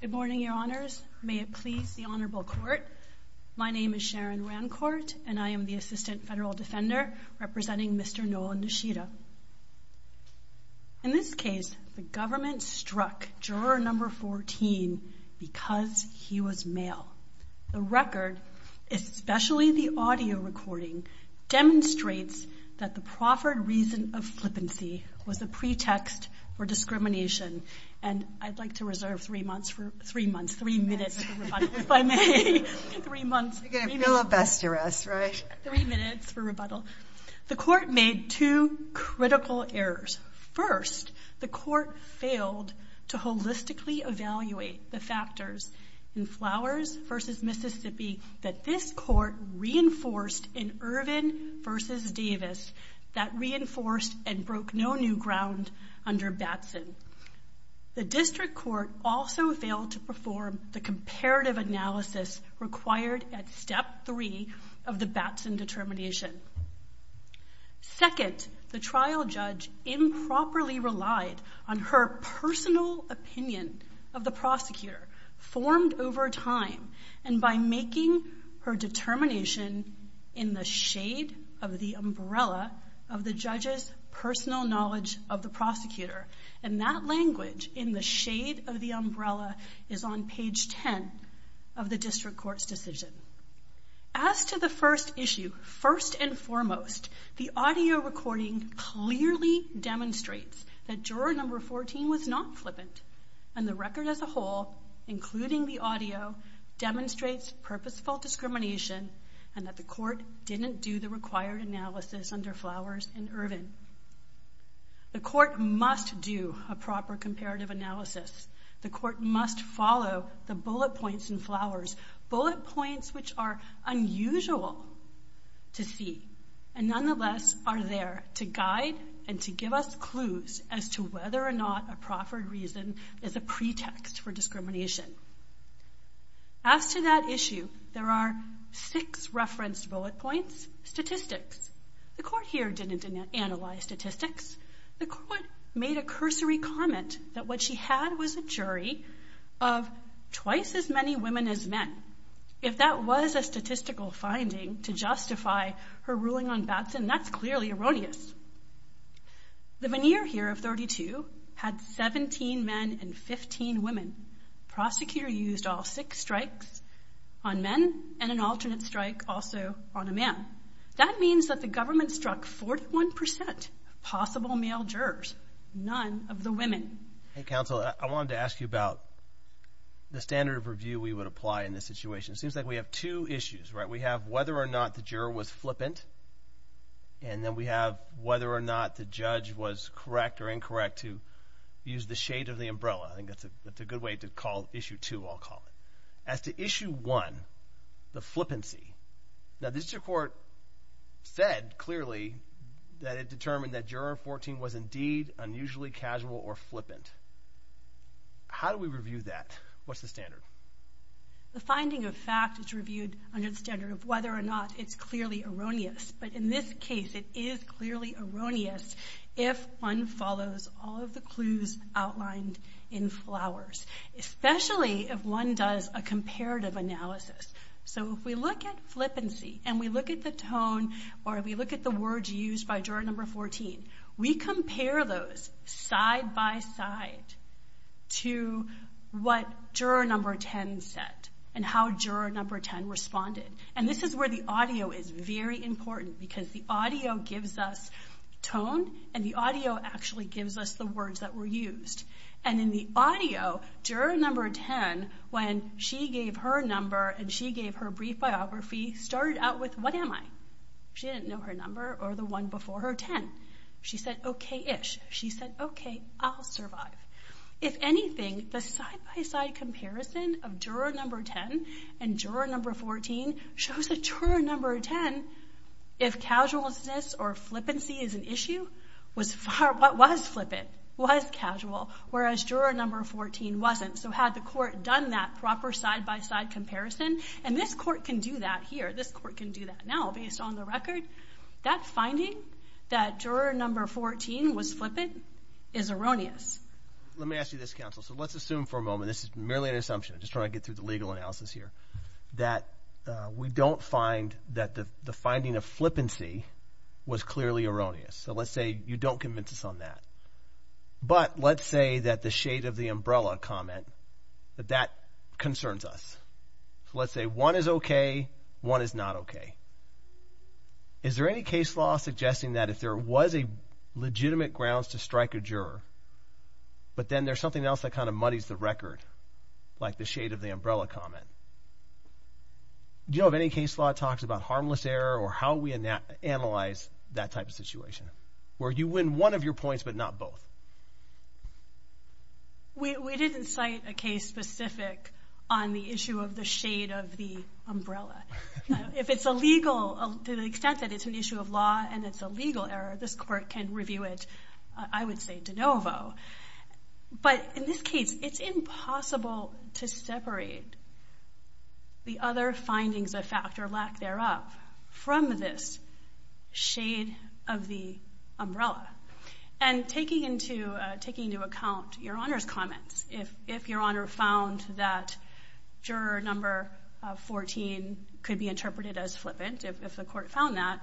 Good morning, Your Honors. May it please the Honorable Court, my name is Sharon Rancourt and I am the Assistant Federal Defender representing Mr. Nolan Nishida. In this case, the government struck juror number 14 because he was male. The record, especially the audio recording, demonstrates that the proffered reason of flippancy was a pretext for discrimination. And I'd like to reserve three months, three minutes for rebuttal, if I may. Three months. You're going to appeal a best arrest, right? Three minutes for rebuttal. The court made two critical errors. First, the court failed to holistically evaluate the factors in Flowers v. Mississippi that this court reinforced in Irvin v. Davis that reinforced and broke no new ground under Batson. The district court also failed to perform the comparative analysis required at step three of the Batson determination. Second, the trial judge improperly relied on her personal opinion of the prosecutor formed over time and by making her determination in the shade of the umbrella of the judge's personal knowledge of the prosecutor. And that language in the shade of the umbrella is on page 10 of the district court's decision. As to the first issue, first and foremost, the audio recording clearly demonstrates that flippant, and the record as a whole, including the audio, demonstrates purposeful discrimination and that the court didn't do the required analysis under Flowers v. Irvin. The court must do a proper comparative analysis. The court must follow the bullet points in Flowers, bullet points which are unusual to see, and nonetheless are there to guide and to give us reason as a pretext for discrimination. As to that issue, there are six referenced bullet points, statistics. The court here didn't analyze statistics. The court made a cursory comment that what she had was a jury of twice as many women as men. If that was a statistical finding to justify her ruling on Batson, that's clearly erroneous. The veneer here of 32 had 17 men and 15 women. Prosecutor used all six strikes on men and an alternate strike also on a man. That means that the government struck 41 percent possible male jurors, none of the women. Hey counsel, I wanted to ask you about the standard of review we would apply in this situation. It the juror was flippant, and then we have whether or not the judge was correct or incorrect to use the shade of the umbrella. I think that's a good way to call issue two, I'll call it. As to issue one, the flippancy, now this court said clearly that it determined that juror 14 was indeed unusually casual or flippant. How do we review that? What's the standard? The finding of fact is reviewed under the standard of whether or not it's clearly erroneous, but in this case it is clearly erroneous if one follows all of the clues outlined in Flowers, especially if one does a comparative analysis. If we look at flippancy and we look at the tone or we look at the words used by juror number 14, we compare those side by side to what juror number 10 said and how juror number 10 responded. And this is where the audio is very important because the audio gives us tone and the audio actually gives us the words that were used. And in the audio, juror number 10, when she gave her number and she gave her brief biography, started out with what am I? She didn't know her number or the one before her 10. She said okay-ish. She said okay, I'll survive. If anything, the side by side comparison of juror number 10 and juror number 14 shows that juror number 10, if casualness or flippancy is an issue, was flippant, was casual, whereas juror number 14 wasn't. So had the court done that proper side by side comparison, and this court can do that here, this court can do that now based on the record, that finding that juror number 14 was flippant is erroneous. Let me ask you this, counsel. So let's assume for a moment, this is merely an assumption, just trying to get through the legal analysis here, that we don't find that the finding of flippancy was clearly erroneous. So let's say you don't convince us on that. But let's say that the shade of the umbrella comment, that that concerns us. So let's say one is okay, one is not okay. Is there any case law suggesting that if there was a legitimate grounds to strike a juror, but then there's something else that kind of muddies the record, like the shade of the umbrella comment? Do you know of any case law talks about harmless error or how we analyze that type of situation, where you win one of a case specific on the issue of the shade of the umbrella? If it's a legal, to the extent that it's an issue of law and it's a legal error, this court can review it, I would say de novo. But in this case, it's impossible to separate the other findings of fact or lack thereof from this shade of the umbrella. And taking into account Your Honor's comments, if Your Honor found that juror number 14 could be interpreted as flippant, if the court found that,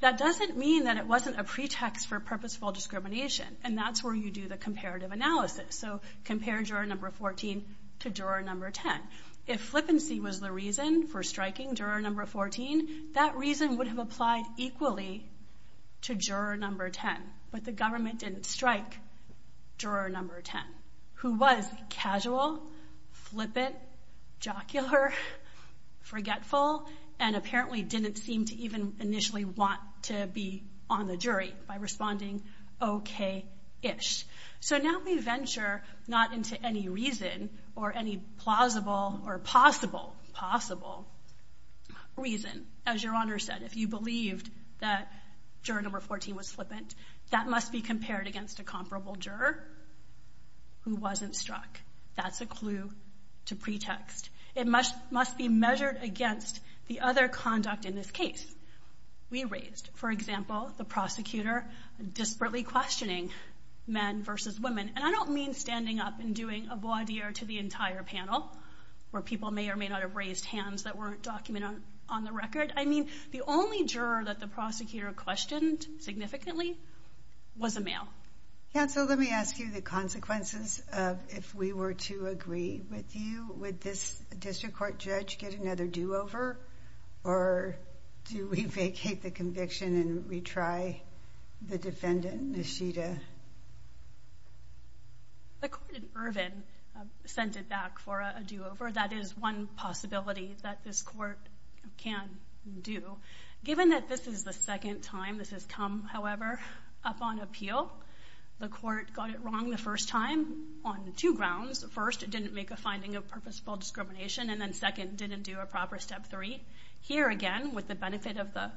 that doesn't mean that it wasn't a pretext for purposeful discrimination. And that's where you do the comparative analysis. So compare juror number 14 to juror number 10. If flippancy was the reason for striking juror number 14, that reason would have applied equally to juror number 10. But the government didn't strike juror number 10, who was casual, flippant, jocular, forgetful, and apparently didn't seem to even initially want to be on the jury by responding okay-ish. So now we venture not into any reason or any plausible or possible, possible, reason. As Your Honor said, if you believed that juror number 14 was flippant, that must be compared against a comparable juror who wasn't struck. That's a clue to pretext. It must be measured against the other conduct in this case we raised. For example, the prosecutor disparately questioning men versus women. And I don't mean standing up and doing a voir dire to the entire panel, where people may or may not have raised hands that weren't documented on the record. I mean, the only juror that the prosecutor questioned significantly was a male. Counsel, let me ask you the consequences of if we were to agree with you, would this district court judge get another do-over? Or do we vacate the conviction and retry the defendant, Nishita? The court in Irvine sent it back for a do-over. That is one possibility that this court can do. Given that this is the second time this has come, however, up on appeal, the court got it wrong the first time on two grounds. First, it didn't make a finding of purposeful discrimination, and then second, didn't do a proper step three. Here again, with the benefit of the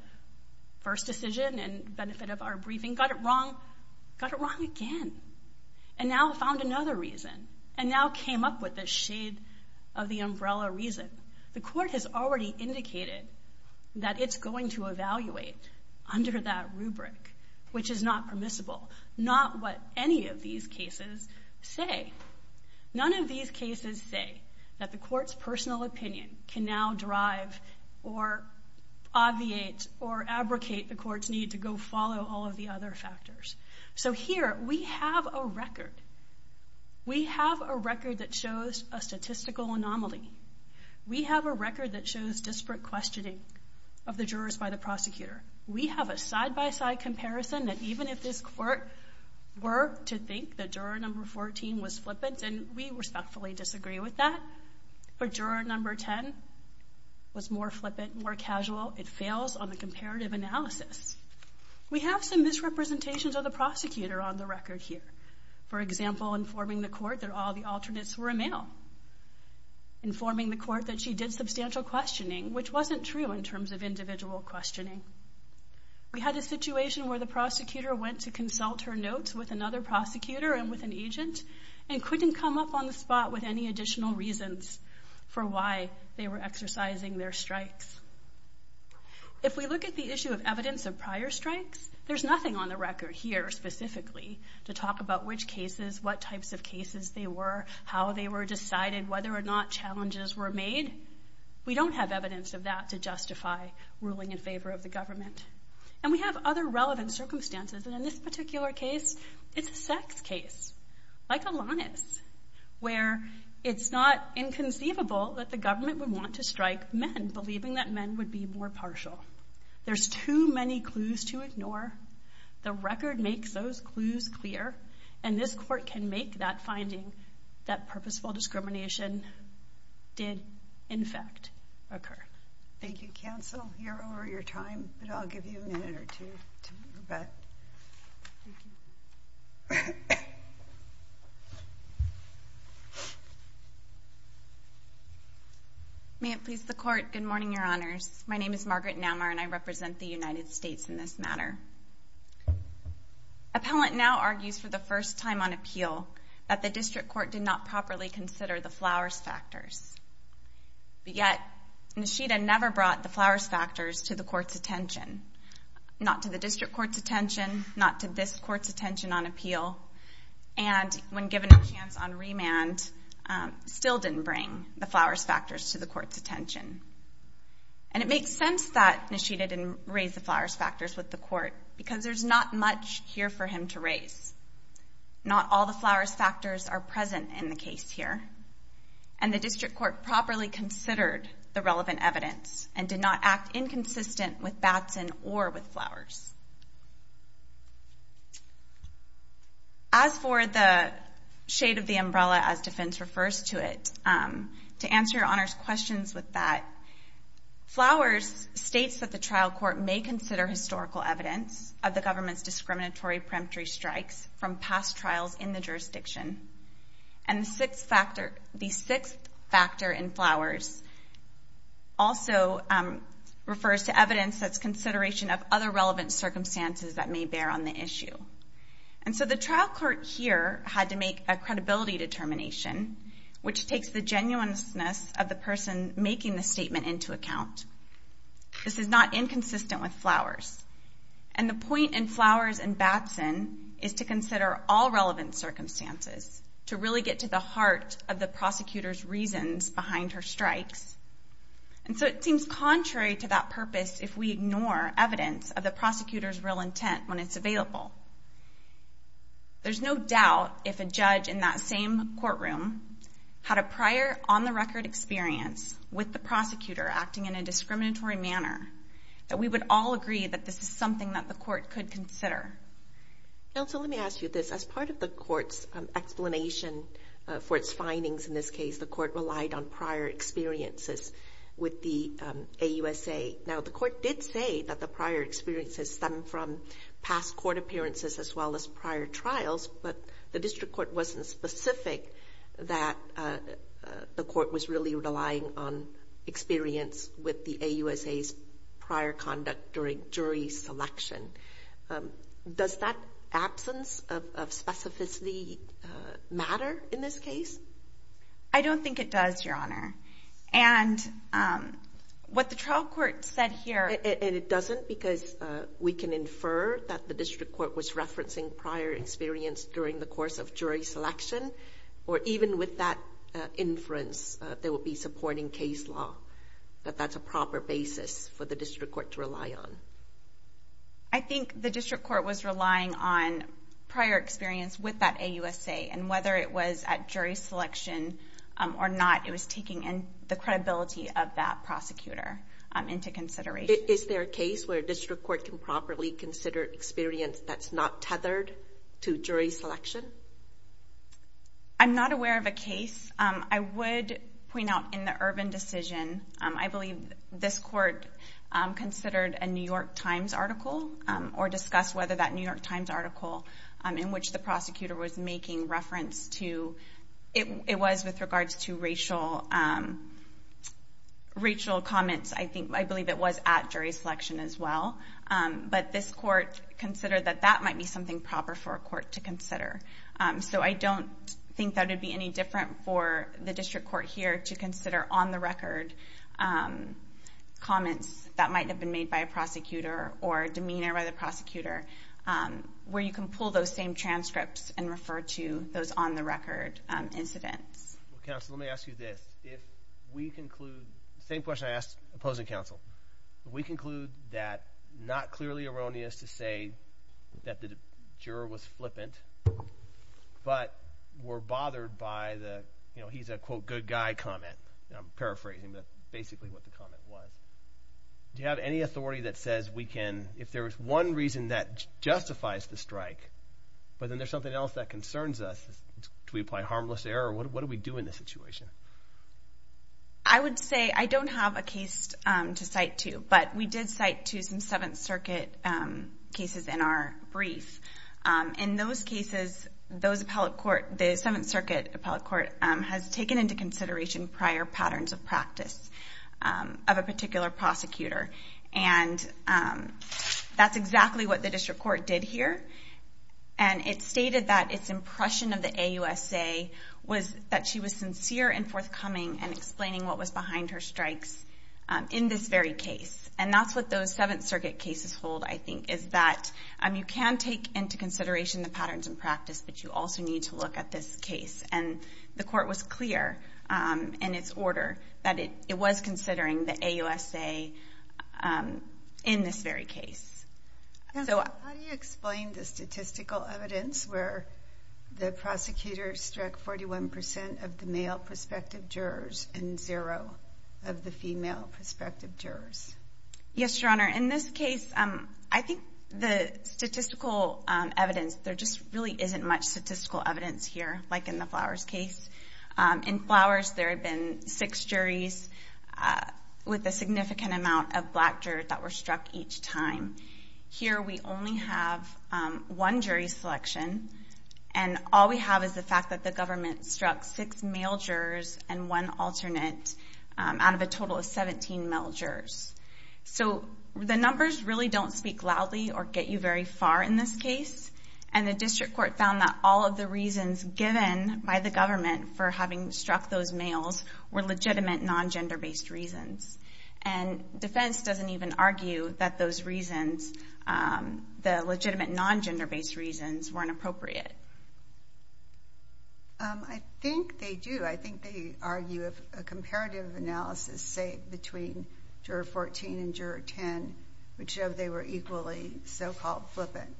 first decision and benefit of our briefing, got it wrong, got it wrong again, and now found another reason, and now came up with the shade of the umbrella reason. The court has already indicated that it's going to evaluate under that rubric, which is not permissible. Not what any of these cases say. None of these cases say that the court's personal opinion can now drive or obviate or abrogate the court's need to follow all of the other factors. So here, we have a record. We have a record that shows a statistical anomaly. We have a record that shows disparate questioning of the jurors by the prosecutor. We have a side-by-side comparison that even if this court were to think that juror number 14 was flippant, and we respectfully disagree with that, but juror number 10 was more flippant, more casual, it fails on the comparative analysis. We have some misrepresentations of the prosecutor on the record here. For example, informing the court that all the alternates were a male. Informing the court that she did substantial questioning, which wasn't true in terms of individual questioning. We had a situation where the prosecutor went to consult her notes with another prosecutor and with an agent, and couldn't come up on the spot with any additional reasons for why they were exercising their strikes. If we look at the issue of evidence of prior strikes, there's nothing on the record here specifically to talk about which cases, what types of cases they were, how they were decided, whether or not challenges were made. We don't have evidence of that to justify ruling in favor of the government. And we have other relevant circumstances, and in this particular case, it's a sex case, like Alanis, where it's not inconceivable that the government would want to strike men, believing that men would be more partial. There's too many clues to ignore. The record makes those clues clear, and this court can make that finding that purposeful discrimination did, in fact, occur. Thank you, counsel. You're over your time, but I'll give you a minute or two. May it please the court, good morning, your honors. My name is Margaret Naumar, and I represent the United States in this matter. Appellant now argues for the first time on appeal that the district court did not properly consider the flowers factors. But yet, Nishida never brought the flowers factors to the court's attention, not to the district court's attention, not to this court's attention on appeal, and when given a chance on remand, still didn't bring the flowers factors to the court's attention. And it makes sense that Nishida didn't raise the flowers factors with the court, because there's not much here for him to raise. Not all the flowers factors are present in the district court properly considered the relevant evidence and did not act inconsistent with Batson or with Flowers. As for the shade of the umbrella as defense refers to it, to answer your honors questions with that, Flowers states that the trial court may consider historical evidence of the government's discriminatory peremptory strikes from past trials in the jurisdiction, and the sixth factor in Flowers also refers to evidence that's consideration of other relevant circumstances that may bear on the issue. And so the trial court here had to make a credibility determination, which takes the genuineness of the person making the statement into account. This is not inconsistent with Flowers, and the point in Flowers and Batson is to consider all circumstances to really get to the heart of the prosecutor's reasons behind her strikes. And so it seems contrary to that purpose if we ignore evidence of the prosecutor's real intent when it's available. There's no doubt if a judge in that same courtroom had a prior on the record experience with the prosecutor acting in a discriminatory manner, that we would all agree that this is something that the court could consider. Now, so let me ask you this. As part of the court's explanation for its findings in this case, the court relied on prior experiences with the AUSA. Now, the court did say that the prior experiences stem from past court appearances as well as prior trials, but the district court wasn't specific that the court was really relying on experience with the AUSA's prior conduct during jury selection. Does that absence of specificity matter in this case? I don't think it does, Your Honor. And what the trial court said here... And it doesn't because we can infer that the district court was referencing prior experience during the course of jury selection, or even with that inference, they would be supporting case law. But that's a proper basis for the district court to rely on. I think the district court was relying on prior experience with that AUSA, and whether it was at jury selection or not, it was taking in the credibility of that prosecutor into consideration. Is there a case where district court can properly consider experience that's not tethered to jury selection? I'm not aware of a case. I would point out in the Ervin decision, I believe this court considered a New York Times article or discussed whether that New York Times article in which the prosecutor was making reference to... It was with regards to racial comments. I believe it was at jury selection as well. But this court considered that that might be something proper for a court to consider. So I don't think that would be any different for the district court here to consider on the record comments that might have been made by a prosecutor or demeanor by the prosecutor, where you can pull those same transcripts and refer to those on the same question I asked opposing counsel. We conclude that not clearly erroneous to say that the juror was flippant, but were bothered by the, you know, he's a quote good guy comment. I'm paraphrasing, but basically what the comment was. Do you have any authority that says we can, if there's one reason that justifies the strike, but then there's something else that concerns us, do we apply harmless error? What do we do in this situation? I would say I don't have a case to cite to, but we did cite to some Seventh Circuit cases in our brief. In those cases, the Seventh Circuit appellate court has taken into consideration prior patterns of practice of a particular prosecutor. And that's exactly what the AUSA was, that she was sincere and forthcoming and explaining what was behind her strikes in this very case. And that's what those Seventh Circuit cases hold, I think, is that you can take into consideration the patterns and practice, but you also need to look at this case. And the court was clear in its order that it was considering the AUSA in this very case. So how do you explain the statistical evidence where the prosecutor struck 41% of the male prospective jurors and zero of the female prospective jurors? Yes, Your Honor. In this case, I think the statistical evidence, there just really isn't much statistical evidence here, like in the Flowers case. In Flowers, there had been six juries with a significant amount of black jurors that were struck each time. Here, we only have one jury selection, and all we have is the fact that the government struck six male jurors and one alternate out of a total of 17 male jurors. So the numbers really don't speak loudly or get you very far in this case. And the district court found that all of the reasons given by the government for having gender-based reasons. And defense doesn't even argue that those reasons, the legitimate non-gender-based reasons, weren't appropriate. I think they do. I think they argue a comparative analysis, say, between juror 14 and juror 10 would show they were equally so-called flippant.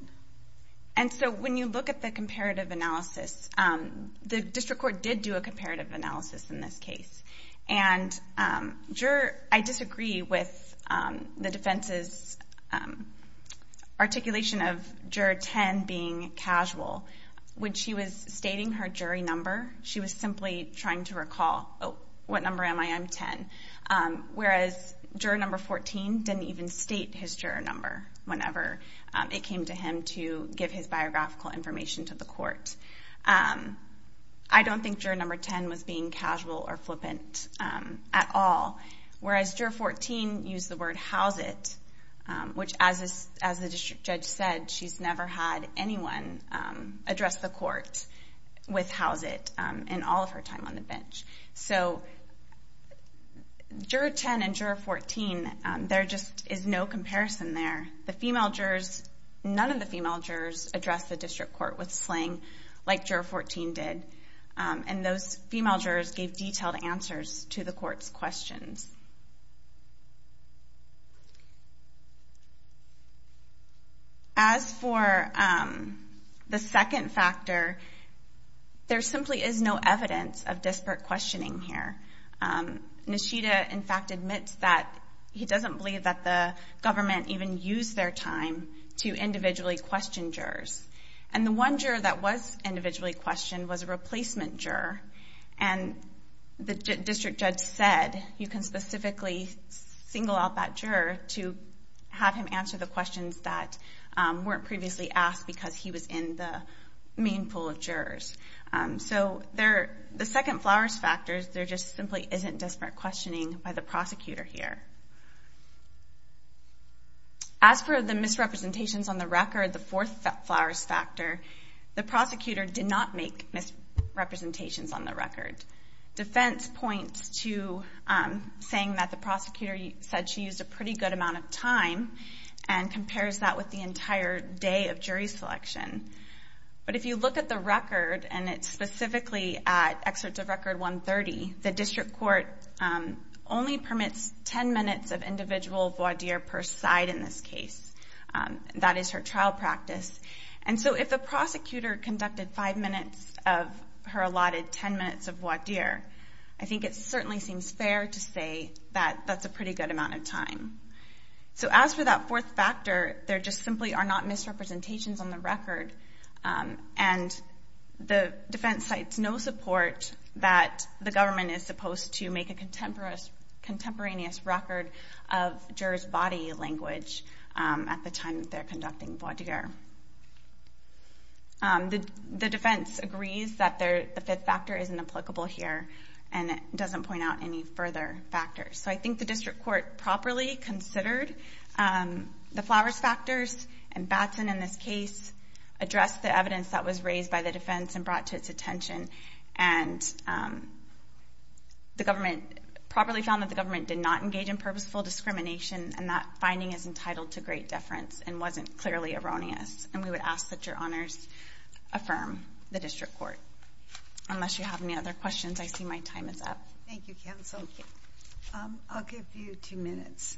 And so when you look at the comparative analysis, the district court did do a comparative analysis in this case. And I disagree with the defense's articulation of juror 10 being casual. When she was stating her jury number, she was simply trying to recall, oh, what number am I? I'm 10. Whereas, juror number 14 didn't even state his juror number whenever it came to him to be casual or flippant at all. Whereas, juror 14 used the word, how's it? Which, as the district judge said, she's never had anyone address the court with how's it in all of her time on the bench. So juror 10 and juror 14, there just is no comparison there. The female jurors, none of the female jurors addressed the district court with slang like juror 14 did. And those jurors gave detailed answers to the court's questions. As for the second factor, there simply is no evidence of disparate questioning here. Nishida, in fact, admits that he doesn't believe that the government even used their time to individually question jurors. And the one juror that was individually questioned was a female. And the district judge said, you can specifically single out that juror to have him answer the questions that weren't previously asked because he was in the main pool of jurors. So the second flowers factor, there just simply isn't disparate questioning by the prosecutor here. As for the misrepresentations on the record, the fourth flowers factor, the prosecutor did not make misrepresentations on the record. Defense points to saying that the prosecutor said she used a pretty good amount of time and compares that with the entire day of jury selection. But if you look at the record, and it's specifically at excerpt of record 130, the district court only permits 10 minutes of individual voir dire per side in this case. That is her trial practice. And so if the prosecutor conducted five minutes of her allotted 10 minutes of voir dire, I think it certainly seems fair to say that that's a pretty good amount of time. So as for that fourth factor, there just simply are not misrepresentations on the record. And the defense cites no support that the government is supposed to make a contemporaneous record of jurors' body language at the time that they're conducting voir dire. The defense agrees that the fifth factor isn't applicable here and it doesn't point out any further factors. So I think the district court properly considered the flowers factors and Batson in this case addressed the evidence that was raised by the defense and brought to its purposeful discrimination and that finding is entitled to great deference and wasn't clearly erroneous. And we would ask that your honors affirm the district court. Unless you have any other questions, I see my time is up. Thank you, counsel. I'll give you two minutes.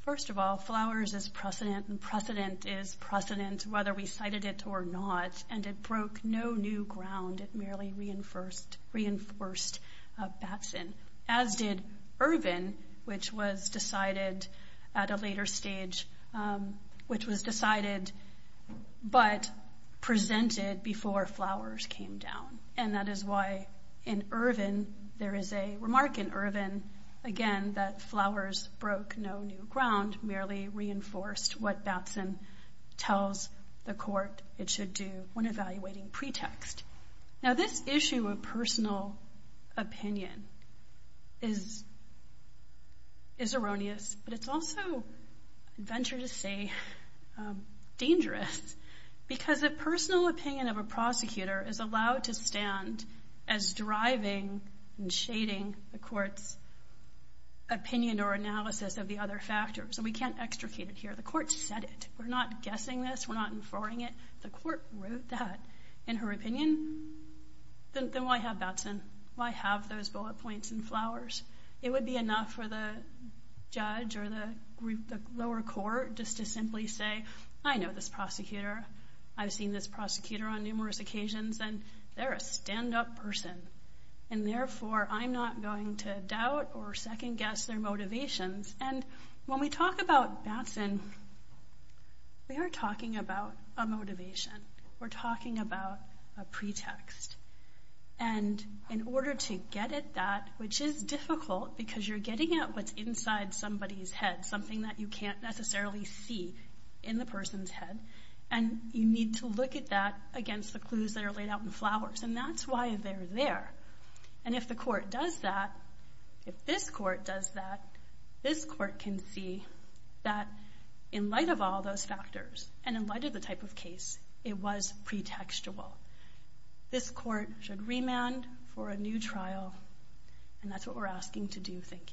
First of all, flowers is precedent and precedent is precedent whether we cited it or not. And it broke no new ground. It merely reinforced Batson, as did Irvin, which was decided at a later stage, which was decided but presented before flowers came down. And that is why in Irvin, there is a remark in Irvin, again, that flowers broke no new ground, merely reinforced what Batson tells the court it should do when evaluating pretext. Now, this issue of personal opinion is erroneous, but it's also, venture to say, dangerous because the personal opinion of a prosecutor is allowed to stand as driving and shading the court's opinion or analysis of other factors. And we can't extricate it here. The court said it. We're not guessing this. We're not inferring it. The court wrote that in her opinion. Then why have Batson? Why have those bullet points and flowers? It would be enough for the judge or the group, the lower court, just to simply say, I know this prosecutor. I've seen this prosecutor on numerous occasions and they're a stand up person. And therefore, I'm not going to doubt or second guess their motivations. And when we talk about Batson, we are talking about a motivation. We're talking about a pretext. And in order to get at that, which is difficult because you're getting at what's inside somebody's head, something that you can't necessarily see in the person's head, and you need to look at that against the clues that are laid out in flowers. And that's why they're there. And if the court does that, if this court does that, this court can see that in light of all those factors and in light of the type of case, it was pretextual. This court should remand for a new trial. And that's what we're asking to do. Thank you.